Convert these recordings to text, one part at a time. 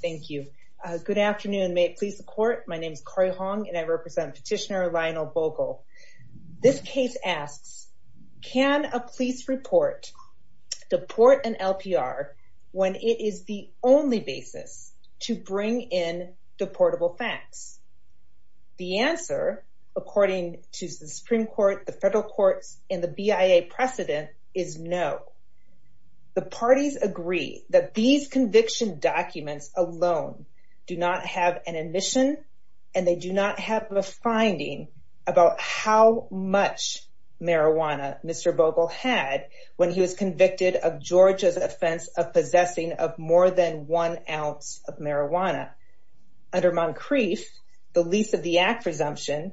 Thank you. Good afternoon. May it please the court. My name is Corrie Hong and I represent petitioner Lionel Bogle. This case asks, can a police report deport an LPR when it is the only basis to bring in deportable facts? The answer, according to the Supreme Court, the federal courts, and the BIA precedent is no. The parties agree that these conviction documents alone do not have an admission and they do not have a finding about how much marijuana Mr. Bogle had when he was convicted of Georgia's offense of possessing of more than one ounce of marijuana. Under Moncrief, the lease of the act presumption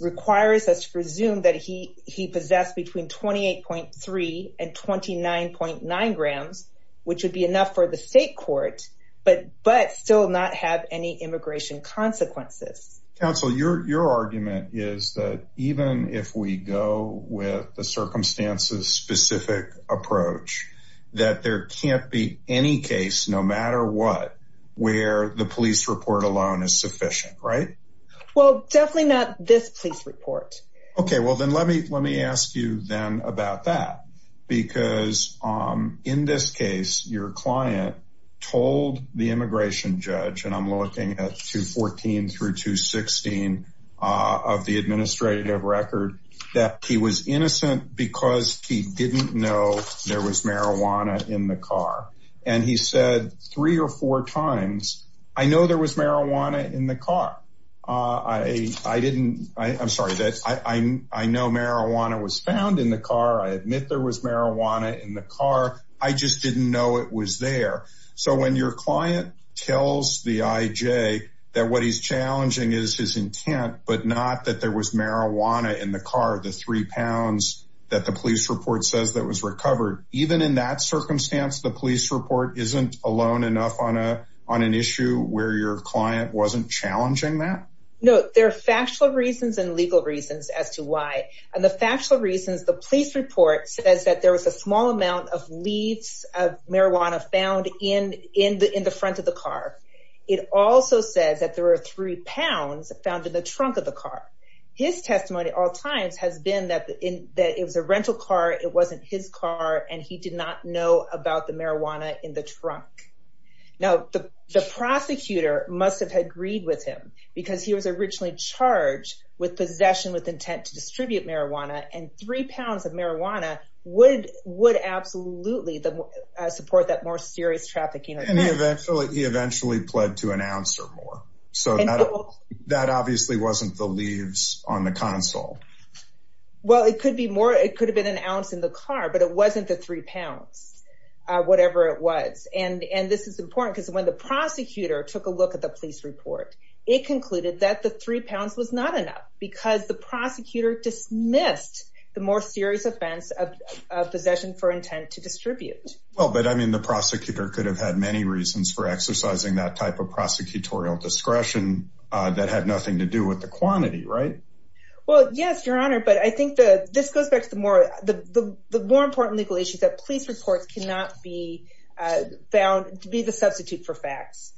requires us to presume that he possessed between 28.3 and 29.9 grams, which would be enough for the state court, but still not have any immigration consequences. Counsel, your argument is that even if we go with the circumstances specific approach, that there can't be any case, no matter what, where the police report alone is sufficient, right? Well, definitely not this police report. Okay. Well then let me, let me ask you then about that because, um, in this case, your client told the immigration judge and I'm looking at two 14 through two 16, uh, of the administrative record that he was innocent because he didn't know there was marijuana in the car. And he said three or four times, I know there was marijuana in the car. Uh, I, I didn't, I I'm sorry that I, I, I know marijuana was found in the car. I admit there was marijuana in the car. I just didn't know it was there. So when your client tells the IJ that what he's challenging is his intent, but not that there was marijuana in the car, the three pounds that the police report says that was recovered. Even in that circumstance, the police report isn't alone enough on a, on an issue where your client wasn't challenging that? No, there are factual reasons and legal reasons as to why, and the factual reasons, the police report says that there was a small amount of leads of marijuana found in, in the, in the front of the car. It also says that there were three pounds found in the trunk of the car. His testimony at all times has been that in that it was a rental car, it wasn't his car. And he did not know about the marijuana in the trunk. Now the, the prosecutor must have had agreed with him because he was originally charged with possession with intent to distribute marijuana and three pounds of marijuana would, would absolutely support that more serious trafficking. And he eventually, he eventually pled to an ounce or more. So that obviously wasn't the leaves on the console. Well, it could be more, it could have been an ounce in the car, but it wasn't the three pounds, whatever it was. And, and this is important because when the prosecutor took a look at the police report, it concluded that the three pounds was not enough because the prosecutor dismissed the more serious offense of possession for intent to distribute. Well, but I mean, the prosecutor could have had many reasons for exercising that type of prosecutorial discretion that had nothing to do with the quantity, right? Well, yes, your honor. But I think the, this goes back to the more, the more important legal issues that police reports cannot be found to be the substitute for facts.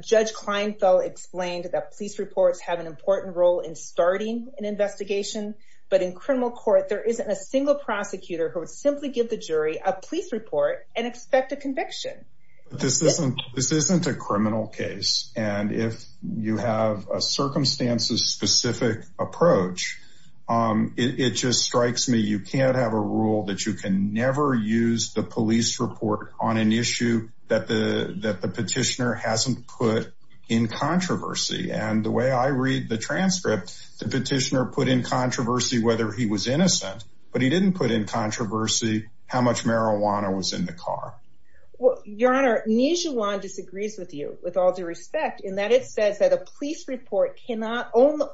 Judge Kleinfeld explained that police reports have an important role in starting an investigation, but in criminal court, there isn't a single prosecutor who would simply give the jury a police report and expect a conviction. This isn't, this isn't a criminal case. And if you have a circumstances specific approach it, it just strikes me. You can't have a rule that you can never use the police report on an issue that the, that the petitioner hasn't put in controversy. And the way I read the transcript, the petitioner put in controversy, whether he was innocent, but he didn't put in controversy how much marijuana was in the car. Well, your honor, Nijuan disagrees with you with all due respect in that it says that a police report cannot,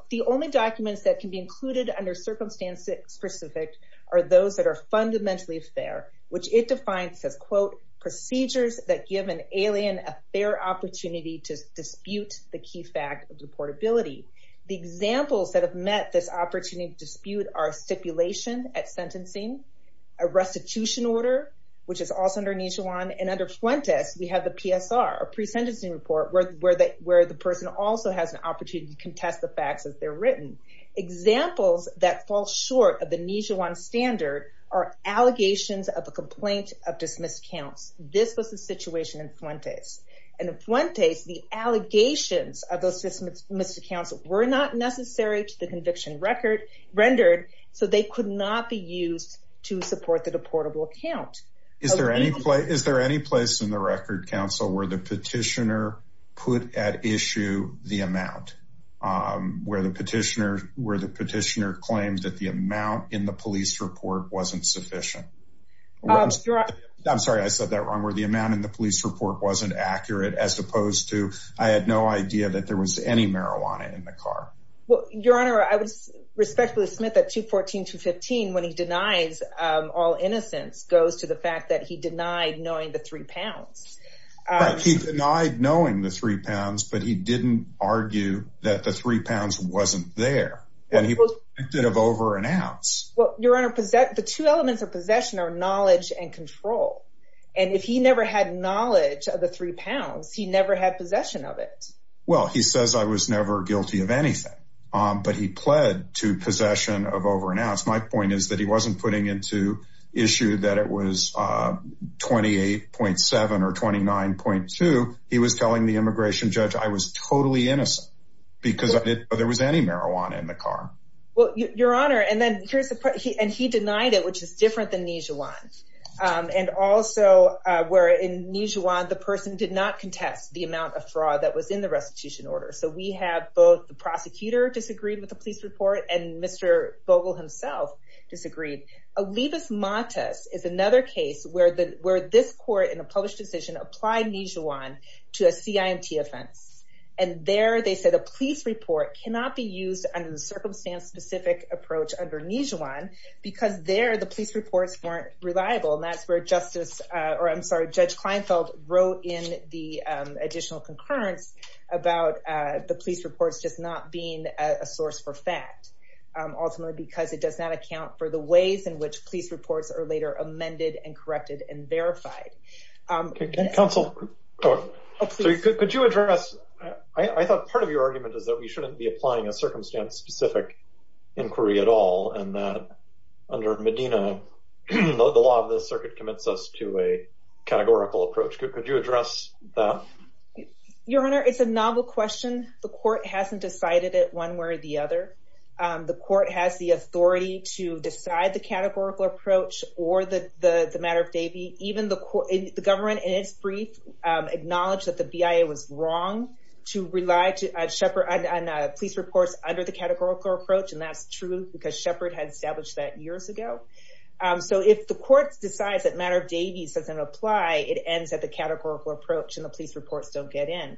the only documents that can be included under circumstances specific are those that are fundamentally fair, which it defines as quote, procedures that give an alien a fair opportunity to dispute the key fact of deportability. The examples that have met this opportunity to dispute are stipulation at sentencing, a restitution order, which is also under Nijuan. And under Fuentes, we have the PSR, a pre-sentencing report where the, where the person also has an opportunity to contest the facts as they're written. Examples that fall short of the Nijuan standard are allegations of a complaint of dismissed counts. This was the situation in Fuentes. And in Fuentes, the allegations of those dismissed counts were not necessary to the conviction record rendered. So they could not be used to support the deportable count. Is there any place, is there any place in the record council where the petitioner put at issue the amount, um, where the petitioner, where the petitioner claims that the amount in the police report wasn't sufficient? I'm sorry, I said that wrong, where the amount in the police report wasn't accurate as opposed to, I had no idea that there was any marijuana in the car. Well, he denies, um, all innocence goes to the fact that he denied knowing the three pounds. He denied knowing the three pounds, but he didn't argue that the three pounds wasn't there. And he was convicted of over an ounce. Well, your honor, the two elements of possession are knowledge and control. And if he never had knowledge of the three pounds, he never had possession of it. Well, he says I was never guilty of anything. Um, but he pled to possession of over an ounce. My point is that he wasn't putting into issue that it was, uh, 28.7 or 29.2. He was telling the immigration judge, I was totally innocent because there was any marijuana in the car. Well, your honor. And then here's the part he, and he denied it, which is different than Nijuan. Um, and also, uh, where in Nijuan, the person did not contest the amount of fraud that was in the restitution order. So we have both the prosecutor disagreed with the police report and Mr. Vogel himself disagreed. Olivas-Matas is another case where the, where this court in a published decision applied Nijuan to a CIMT offense. And there they said a police report cannot be used under the circumstance specific approach under Nijuan because there the police reports weren't reliable. And that's where justice, uh, or I'm sorry, judge Kleinfeld wrote in the, additional concurrence about, uh, the police reports, just not being a source for fact, ultimately because it does not account for the ways in which police reports are later amended and corrected and verified. Um, counsel, could you address, I thought part of your argument is that we shouldn't be applying a circumstance specific inquiry at all. And that under Medina, the law of the circuit commits us to a categorical approach. Could you address that? Your Honor, it's a novel question. The court hasn't decided it one way or the other. The court has the authority to decide the categorical approach or the, the matter of Davie. Even the court, the government in its brief, um, acknowledged that the BIA was wrong to rely to, uh, Shepard and, and, uh, police reports under the categorical approach. And that's true because Shepard had established that years ago. Um, so if the court decides that matter of Davies doesn't apply, it ends at the categorical approach and the police reports don't get in.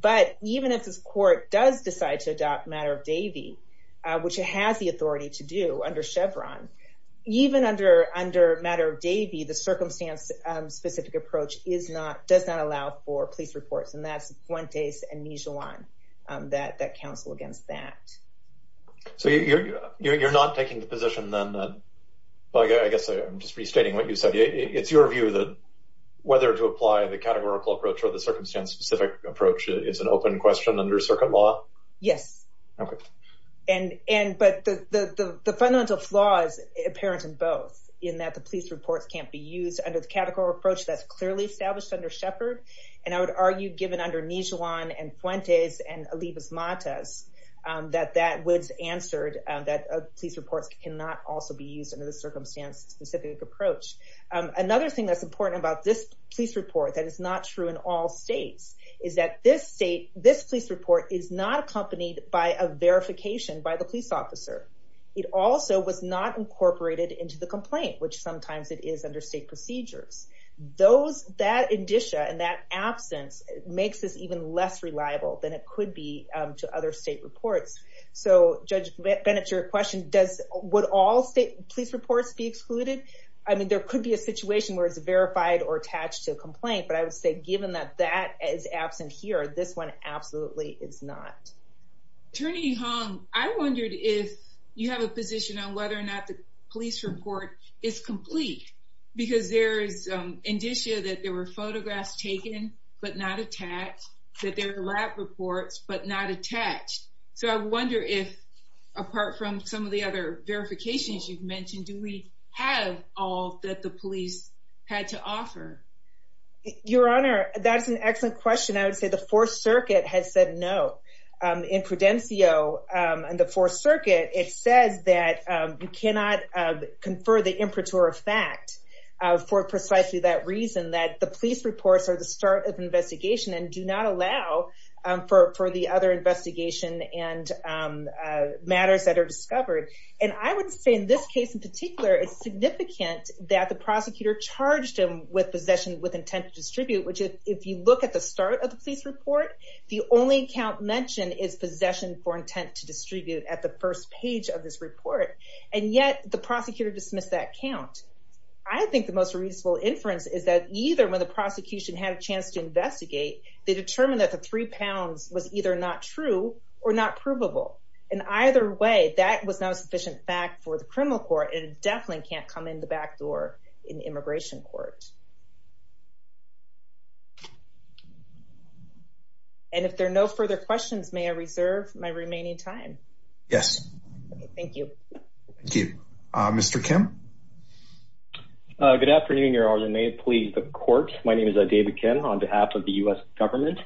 But even if this court does decide to adopt matter of Davie, uh, which it has the authority to do under Chevron, even under, under matter of Davie, the circumstance, um, specific approach is not, does not allow for police reports. And that's Fuentes and Mijuan that, that counsel against that. So you're, you're, you're, you're not taking the position then that, well, I guess I'm just restating what you said. It's your view that whether to apply the categorical approach or the circumstance specific approach is an open question under circuit law. Yes. Okay. And, and, but the, the, the, the fundamental flaws apparent in both in that the police reports can't be used under the categorical approach that's clearly established under Shepard. And I would argue given under Mijuan and Fuentes and Olivas Matas, um, that that was answered, that police reports can not also be used under the circumstance specific approach. Um, another thing that's important about this police report that is not true in all states is that this state, this police report is not accompanied by a verification by the police officer. It also was not incorporated into the complaint, which sometimes it is under state procedures. Those, that indicia and that absence makes this even less reliable than it could be, um, to other state reports. So Judge Bennett, your question does, would all state police reports be excluded? I mean, there could be a situation where it's verified or attached to a complaint, but I would say, given that that is absent here, this one absolutely is not. Attorney Hong, I wondered if you have a position on whether or not the police report is complete because there is, um, indicia that there were photographs taken, but not attached, that there are lab reports, but not attached. So I wonder if, apart from some of the other verifications you've mentioned, do we have all that the police had to offer? Your Honor, that's an excellent question. I would say the Fourth Circuit has said no. In Prudencio, um, in the Fourth Circuit, it says that, um, you cannot, um, confer the imperture of fact, uh, for precisely that reason, that the police reports are the start of investigation and do not allow, um, for, for the other investigation and, um, uh, matters that are discovered. And I would say in this case in particular, it's significant that the prosecutor charged him with possession with intent to distribute, which if, if you look at the start of the police report, the only count mentioned is possession for intent to distribute at the first page of this report. And yet the prosecutor dismissed that count. I think the most reasonable inference is that either when the prosecution had a chance to investigate, they determined that the three pounds was either not true or not provable. In either way, that was not a sufficient fact for the criminal court and it definitely can't come in the back door in the immigration court. And if there are no further questions, may I reserve my remaining time? Yes. Okay. Thank you. Thank you. Uh, Mr. Kim. Uh, good afternoon, Your Honor. And may it please the court. My name is David Kim on behalf of the U.S. government.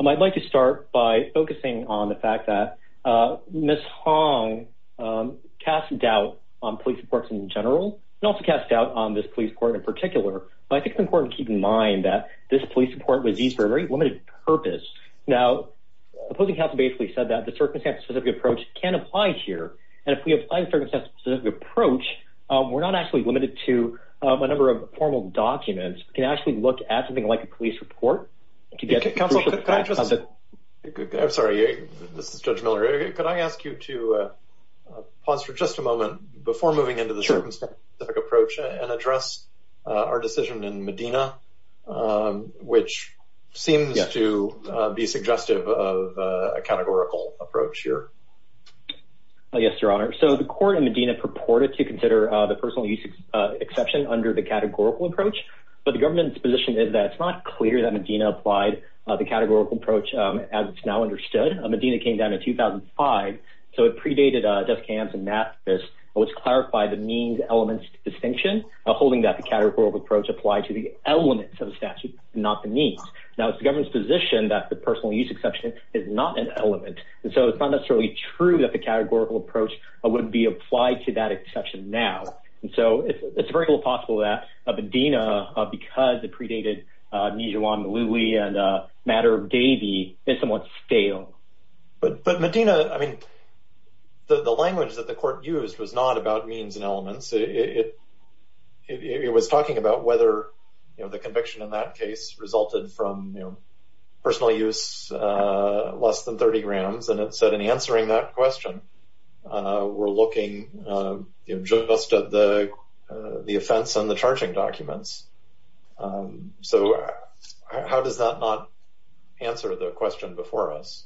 Um, I'd like to start by focusing on the fact that, uh, Ms. Hong, um, cast doubt on police reports in general and also cast doubt on this police court in particular. But I think it's important to keep in mind that this police report was used for a very limited purpose. Now, the opposing counsel basically said that the circumstance specific approach can apply here. And if we apply the circumstances specific approach, um, we're not actually limited to, um, a number of formal documents. We can actually look at something like a police report to get counsel. I'm sorry. This is Judge Miller. Could I ask you to, uh, pause for just a moment before moving into the circumstance specific approach and address our decision in Medina, um, which seems to be suggestive of a categorical approach here? Yes, Your Honor. So the court in Medina purported to consider the personal use, uh, exception under the categorical approach. But the government's position is that it's not clear that Medina applied the categorical approach as it's now understood. Medina came down in 2005, so it predated, uh, death camps and math. This was clarified the means elements distinction holding that the categorical approach applied to the elements of the statute, not the needs. Now, it's the government's position that the personal use exception is not an element. And so it's not necessarily true that the categorical approach wouldn't be applied to that exception now. And so it's very little possible that Medina, because it predated, uh, Mijuan, Maloui and, uh, Matter of Davie is somewhat stale. But, but Medina, I mean, the, the language that the court used was not about means and elements. It was talking about whether, you know, the conviction in that case resulted from, you know, personal use, uh, less than 30 grams. And it said in answering that question, uh, we're looking, uh, just at the, uh, the offense on the charging documents. Um, so how does that not answer the question before us?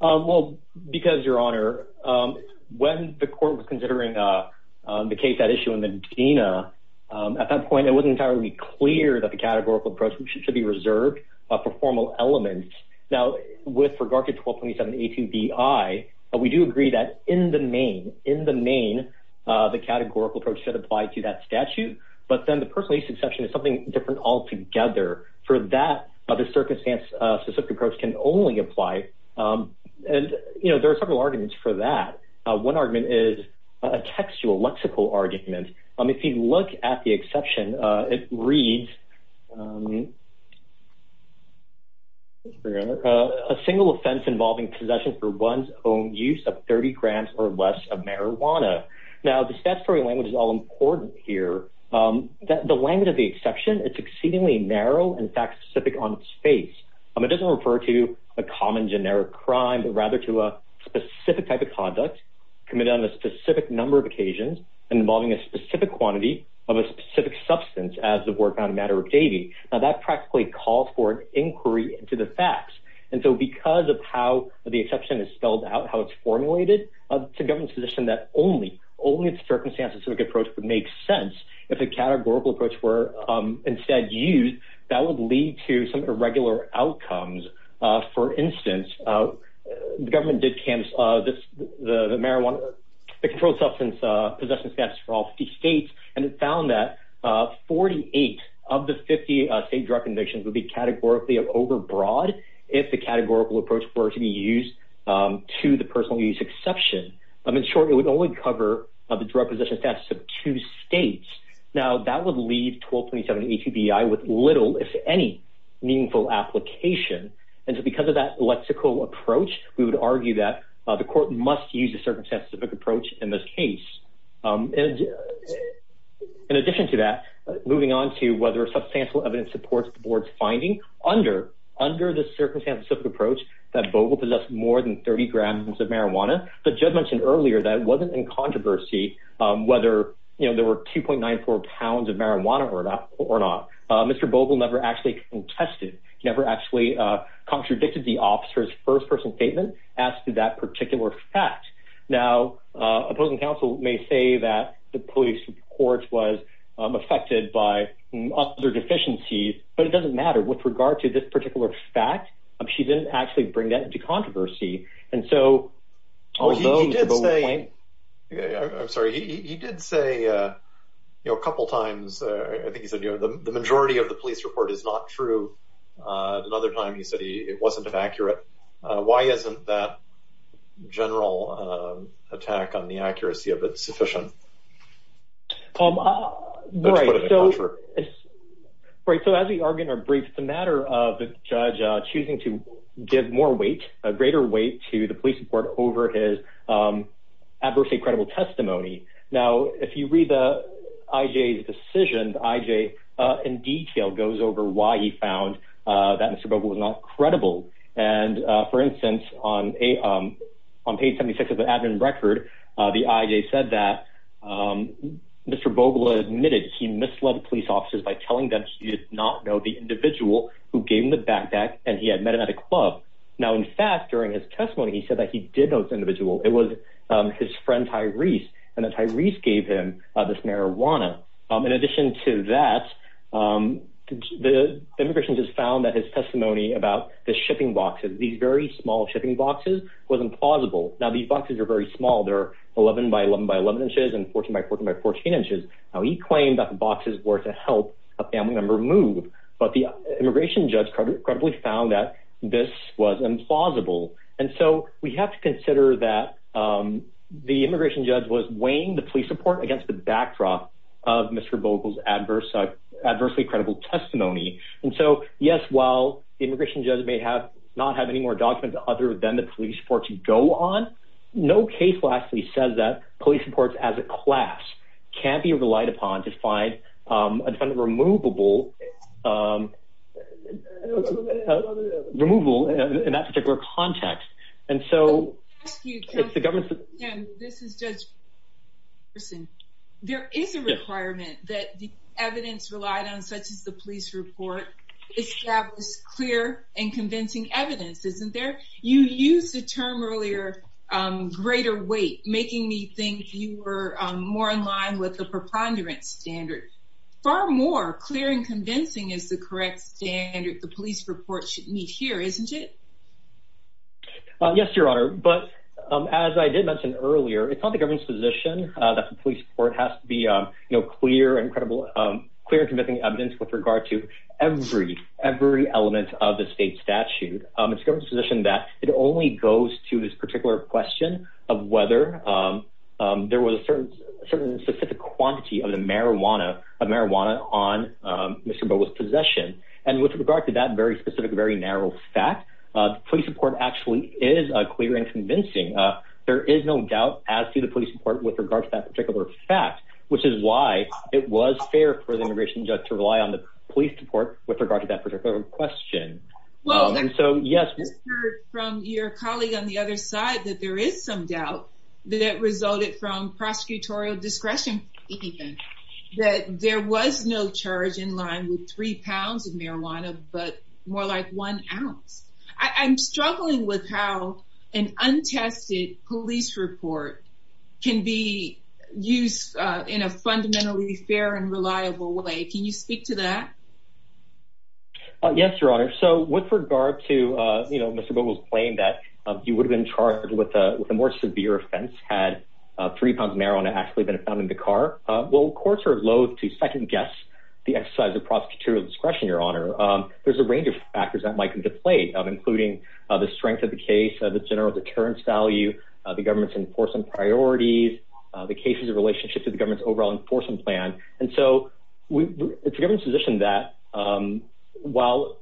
Um, well, because your honor, um, when the court was considering, uh, uh, the case, that issue in Medina, um, at that point, it wasn't entirely clear that the categorical approach should be reserved for formal elements. Now with regard to 1227, 18 B I, but we do agree that in the main, in the main, uh, the categorical approach should apply to that statute, but then the personal use exception is something different altogether for that other circumstance. Uh, specific approach can only apply. Um, and you know, there are several arguments for that. Uh, one argument is a textual lexical argument. Um, if you look at the exception, uh, it reads, um, a single offense involving possession for one's own use of 30 grams or less of marijuana. Now the statutory language is all important here. Um, that the language of the exception, it's exceedingly narrow and fact specific on space. Um, it doesn't refer to a common generic crime, but rather to a specific type of conduct committed on a specific number of occasions and involving a specific quantity of a specific substance as the work on a matter of dating. Now that practically calls for an inquiry into the facts. And so because of how the exception is spelled out, how it's formulated to govern position that only, only in circumstances, approach would make sense. If a categorical approach were, um, instead used, that would lead to some irregular outcomes. Uh, for instance, uh, the government did camps, uh, this, the, the marijuana, the controlled substance, uh, possession status for all 50 States. And it found that, uh, 48 of the 50, uh, state drug convictions would be categorically of overbroad. If the categorical approach were to be used, um, to the personal use exception, I'm in short, it would only cover the drug possession status of two States. Now that would leave 1227 HVBI with little, if any meaningful application. And so because of that lexical approach, we would argue that, uh, the court must use a circumstance specific approach in this case. Um, and in addition to that, moving on to whether a substantial evidence supports the board's finding under, under the circumstance, specific approach that more than 30 grams of marijuana, but judge mentioned earlier that it wasn't in controversy, um, whether, you know, there were 2.9, four pounds of marijuana or not or not, uh, Mr. Bogle never actually tested, never actually, uh, contradicted the officer's first person statement as to that particular fact. Now, uh, opposing counsel may say that the police court was affected by other deficiencies, but it doesn't matter with regard to this particular fact. She didn't actually bring that into controversy. And so, although he did say, I'm sorry, he did say, uh, you know, a couple of times, uh, I think he said, you know, the majority of the police report is not true. Uh, another time he said he, it wasn't an accurate, uh, why isn't that general, um, attack on the accuracy of it's sufficient? Um, uh, right. So as we argue in our brief, it's a matter of the judge choosing to give more weight, a greater weight to the police report over his, um, adversity, credible testimony. Now, if you read the IJ's decision, the IJ, uh, in detail goes over why he found, uh, that Mr. Bogle was not credible. And, uh, for instance, on a, um, on page 76 of the admin record, uh, the IJ said that, um, Mr. Bogle admitted, he misled the police officers by telling them she did not know the individual who gave him the backpack and he had met him at a club. Now, in fact, during his testimony, he said that he did know this individual. It was, um, his friend Tyrese and that Tyrese gave him this marijuana. Um, in addition to that, um, the immigration just found that his testimony about the shipping boxes, these very small was implausible. Now these boxes are very small. They're 11 by 11 by 11 inches and 14 by 14 by 14 inches. Now he claimed that the boxes were to help a family member move, but the immigration judge credibly found that this was implausible. And so we have to consider that, um, the immigration judge was weighing the police report against the backdrop of Mr. Bogle's adverse, uh, adversely credible testimony. And so, yes, while the immigration judge may have not have any more documents other than the police report to go on, no case lastly says that police reports as a class can't be relied upon to find, um, a defendant removable, um, removal in that particular context. And so it's the government, this is judge person. There is a requirement that the you used the term earlier, um, greater weight, making me think you were more in line with the preponderance standard. Far more clear and convincing is the correct standard. The police report should meet here, isn't it? Yes, your honor. But as I did mention earlier, it's not the government's position that the police court has to be, um, you know, clear and credible, um, clear and convincing evidence with regard to every, every element of the state statute. Um, it's government's position that it only goes to this particular question of whether, um, um, there was a certain, certain specific quantity of the marijuana, of marijuana on, um, Mr. Bogle's possession. And with regard to that very specific, very narrow fact, uh, police report actually is clear and convincing. Uh, there is no doubt as to the police report with regard to that particular fact, which is why it was fair for the immigration judge to rely on the police report with regard to that particular question. Um, so yes, from your colleague on the other side, that there is some doubt that resulted from prosecutorial discretion that there was no charge in line with three pounds of marijuana, but more like one ounce. I'm struggling with how an untested police report can be used in a fundamentally fair and reliable way. Can you speak to that? Uh, yes, Your Honor. So with regard to, uh, you know, Mr. Bogle's claim that, uh, you would have been charged with a, with a more severe offense had, uh, three pounds of marijuana actually been found in the car. Uh, well, courts are loathe to second guess the exercise of prosecutorial discretion, Your Honor. Um, there's a range of factors that might come into play of including, uh, the strength of the case, uh, the general deterrence value, uh, the government's enforcement priorities, uh, the cases of relationship to the government's overall enforcement plan. And so we, the government's position that, um, while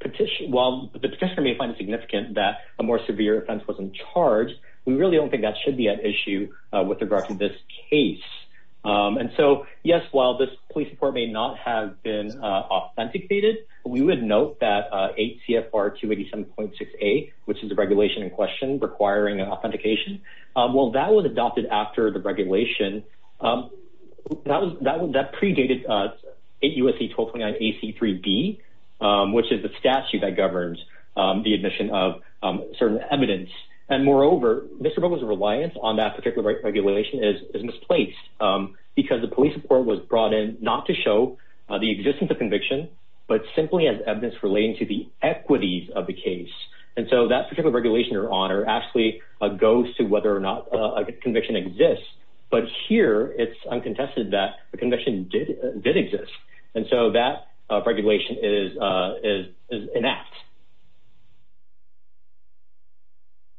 petition, while the petitioner may find it significant that a more severe offense wasn't charged, we really don't think that should be an issue with regard to this case. Um, and so yes, while this police report may not have been, uh, authenticated, we would note that, uh, eight CFR 287.68, which is a regulation in question requiring an authentication. Um, well that was adopted after the regulation. Um, that was, uh, a USC 1229 AC three B, um, which is the statute that governs, um, the admission of, um, certain evidence. And moreover, Mr. Bogle's reliance on that particular regulation is misplaced, um, because the police report was brought in not to show the existence of conviction, but simply as evidence relating to the equities of the case. And so that particular regulation, Your Honor, actually goes to whether or not a conviction exists, but here it's uncontested that the conviction did, did exist. And so that, uh, regulation is, uh, is, is an act.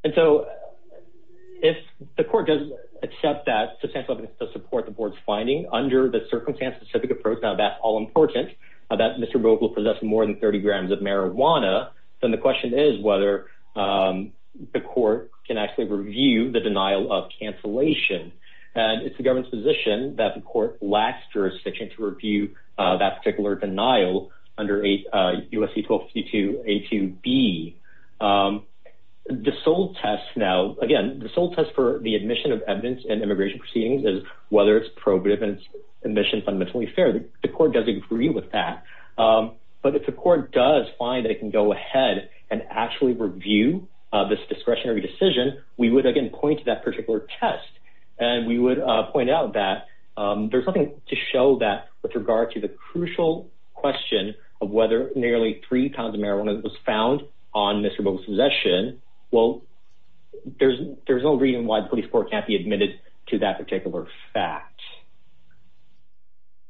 And so if the court doesn't accept that substantial evidence to support the board's finding under the circumstance specific approach, now that's all important that Mr. Bogle possess more than 30 grams of marijuana. Then the question is whether, um, the court can actually review the jurisdiction to review, uh, that particular denial under eight, uh, USC 1252, a two B, um, the sole test. Now, again, the sole test for the admission of evidence and immigration proceedings is whether it's probative and it's admission fundamentally fair. The court does agree with that. Um, but if the court does find that it can go ahead and actually review this discretionary decision, we would again point to that particular test. And we would point out that, um, there's nothing to show that with regard to the crucial question of whether nearly three pounds of marijuana was found on Mr. Bogle's possession. Well, there's, there's no reason why the police court can't be admitted to that particular fact.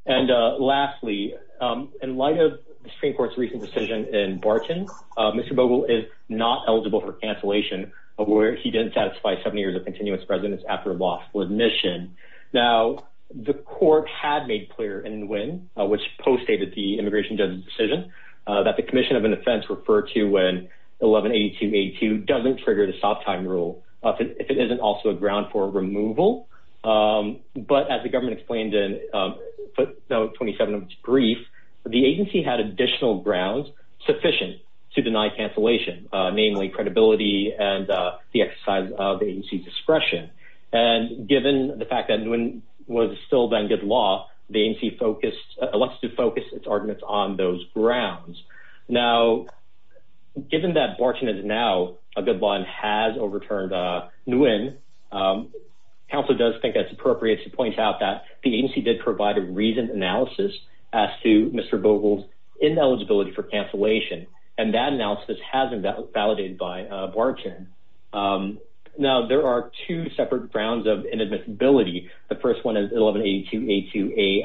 And, uh, lastly, um, in light of the Supreme Court's recent decision in Barton, uh, Mr. Bogle is not eligible for cancellation of where he didn't satisfy seven years of continuous residence after a lawful admission. Now the court had made clear in Nguyen, uh, which postdated the immigration judge's decision, uh, that the commission of an offense referred to when 1182 82 doesn't trigger the soft time rule if it isn't also a ground for removal. Um, but as the government explained in, um, no 27 brief, the agency had additional grounds sufficient to deny cancellation, uh, namely credibility and, uh, the exercise of the agency's discretion. And given the fact that Nguyen was still then good law, the agency focused, elected to focus its arguments on those grounds. Now, given that Barton is now a good line has overturned, uh, Nguyen, um, counsel does think that's appropriate to point out that the agency did provide a reasoned analysis as to Mr. Bogle's ineligibility for cancellation. And that analysis has been validated by, uh, Barton. Um, now there are two separate grounds of inadmissibility. The first one is 1182 82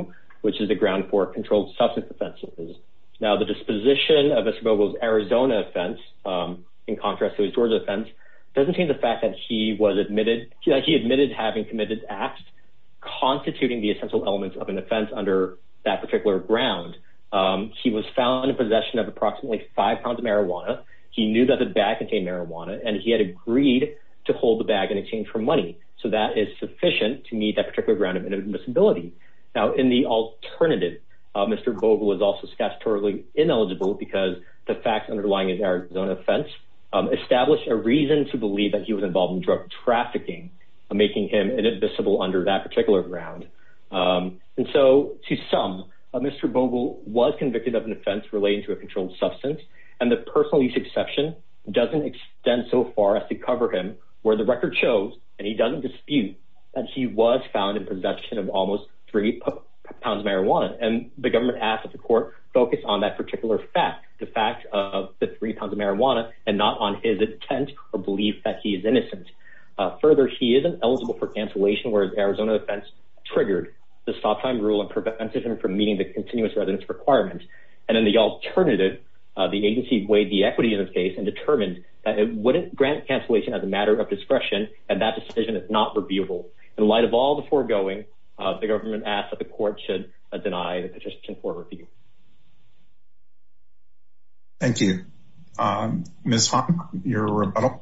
AI2, which is the ground for controlled substance offenses. Now the disposition of Mr. Bogle's Arizona offense, um, in contrast to his Georgia offense, doesn't change the fact that he was admitted. He admitted having committed acts constituting the essential elements of an offense under that particular ground. Um, he was found in possession of approximately five pounds of marijuana. He knew that the bag contained marijuana and he had agreed to hold the bag in exchange for money. So that is sufficient to meet that particular ground of inadmissibility. Now in the alternative, uh, Mr. Bogle was also statutorily ineligible because the facts underlying his Arizona offense, um, established a reason to under that particular ground. Um, and so to some, uh, Mr. Bogle was convicted of an offense relating to a controlled substance and the personal use exception doesn't extend so far as to cover him where the record shows, and he doesn't dispute that he was found in possession of almost three pounds of marijuana. And the government asked that the court focus on that particular fact, the fact of the three pounds of marijuana and not on his intent or belief that he is innocent. Further, he isn't eligible for cancellation where Arizona offense triggered the stop time rule and prevented him from meeting the continuous residence requirements. And then the alternative, uh, the agency weighed the equity in this case and determined that it wouldn't grant cancellation as a matter of discretion. And that decision is not reviewable. In light of all the foregoing, uh, the government asked that the court should deny the petition for review. Thank you. Um, Ms. Hahn, your rebuttal.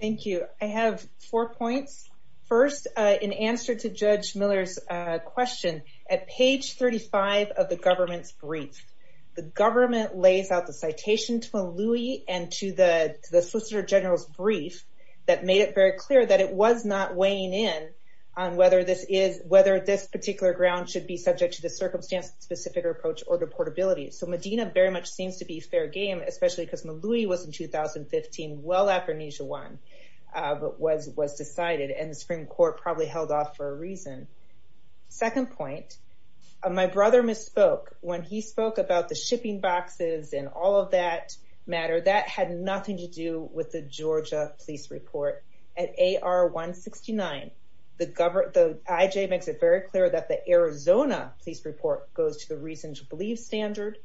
Thank you. I have four points. First, uh, in answer to Judge Miller's, uh, question at page 35 of the government's brief, the government lays out the citation to a Louie and to the, to the Solicitor General's brief that made it very clear that it was not weighing in on whether this is, whether this particular ground should be subject to the order portability. So Medina very much seems to be fair game, especially because Malouie was in 2015. Well, African Asia one, uh, but was, was decided and the Supreme court probably held off for a reason. Second point, uh, my brother misspoke when he spoke about the shipping boxes and all of that matter that had nothing to do with the Georgia police report at AR 169. The government, the IJ makes it very clear that the Arizona police report goes to the reason to believe standard.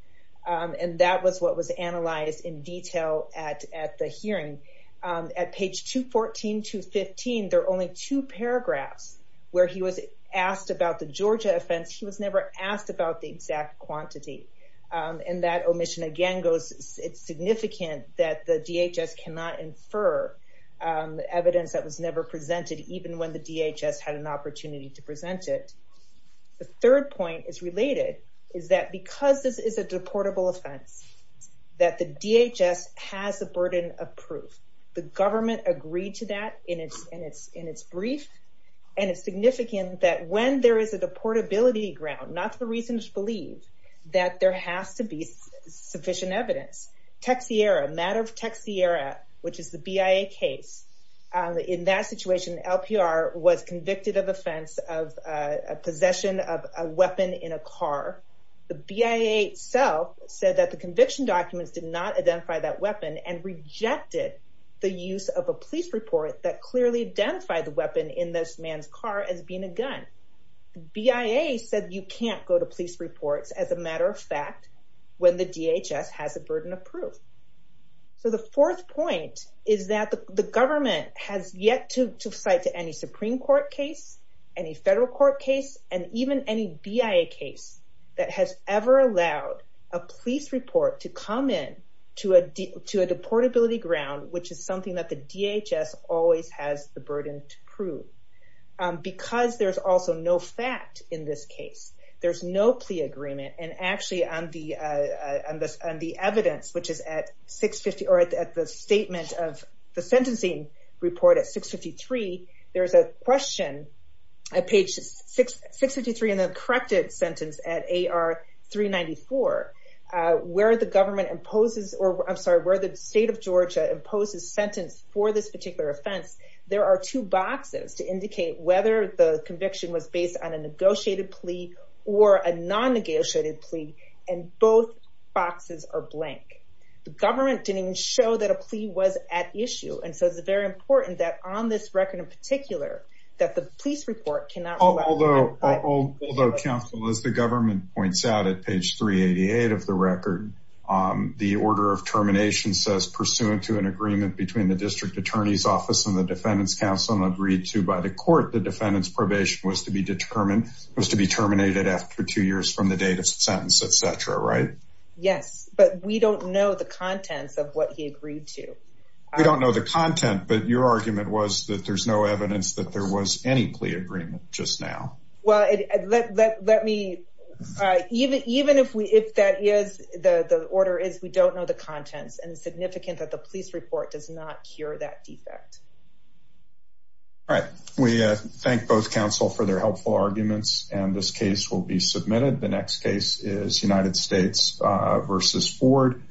Um, and that was what was analyzed in detail at, at the hearing, um, at page 214 to 15, there are only two paragraphs where he was asked about the Georgia offense. He was never asked about the exact quantity. Um, and that omission again goes, it's significant that the DHS cannot infer, um, evidence that was never presented, even when the DHS had an opportunity to present it. The third point is related is that because this is a deportable offense, that the DHS has a burden of proof. The government agreed to that in its, in its, in its brief. And it's significant that when there is a deportability ground, not the reason to believe that there has to be sufficient evidence. Texiera matter of Texiera, which is the BIA case. Um, in that situation, LPR was convicted of offense of a possession of a weapon in a car. The BIA itself said that the conviction documents did not identify that weapon and rejected the use of a police report that clearly identified the weapon in this man's car as being a gun. BIA said, you can't go to police reports as a matter of fact, when the DHS has a burden of proof. So the fourth point is that the government has yet to cite to any Supreme court case, any federal court case, and even any BIA case that has ever allowed a police report to come in to a D to a deportability ground, which is something that the DHS always has the burden to because there's also no fact in this case, there's no plea agreement. And actually on the, on the, on the evidence, which is at 650, or at the statement of the sentencing report at 653, there's a question, page 653 in the corrected sentence at AR 394, where the government imposes, or I'm sorry, where the state of Georgia imposes sentence for this particular offense. There are two boxes to indicate whether the conviction was based on a negotiated plea or a non-negotiated plea, and both boxes are blank. The government didn't even show that a plea was at issue. And so it's very important that on this record in particular, that the police report cannot- Although, although counsel, as the government points out at page 388 of the record, the order of termination says pursuant to an agreement between the district attorney's defense counsel and agreed to by the court, the defendant's probation was to be determined, was to be terminated after two years from the date of sentence, et cetera, right? Yes, but we don't know the contents of what he agreed to. We don't know the content, but your argument was that there's no evidence that there was any plea agreement just now. Well, let me, even if we, if that is, the order is we don't know the contents and significant that the police report does not hear that defect. All right, we thank both counsel for their helpful arguments and this case will be submitted. The next case is United States versus Ford.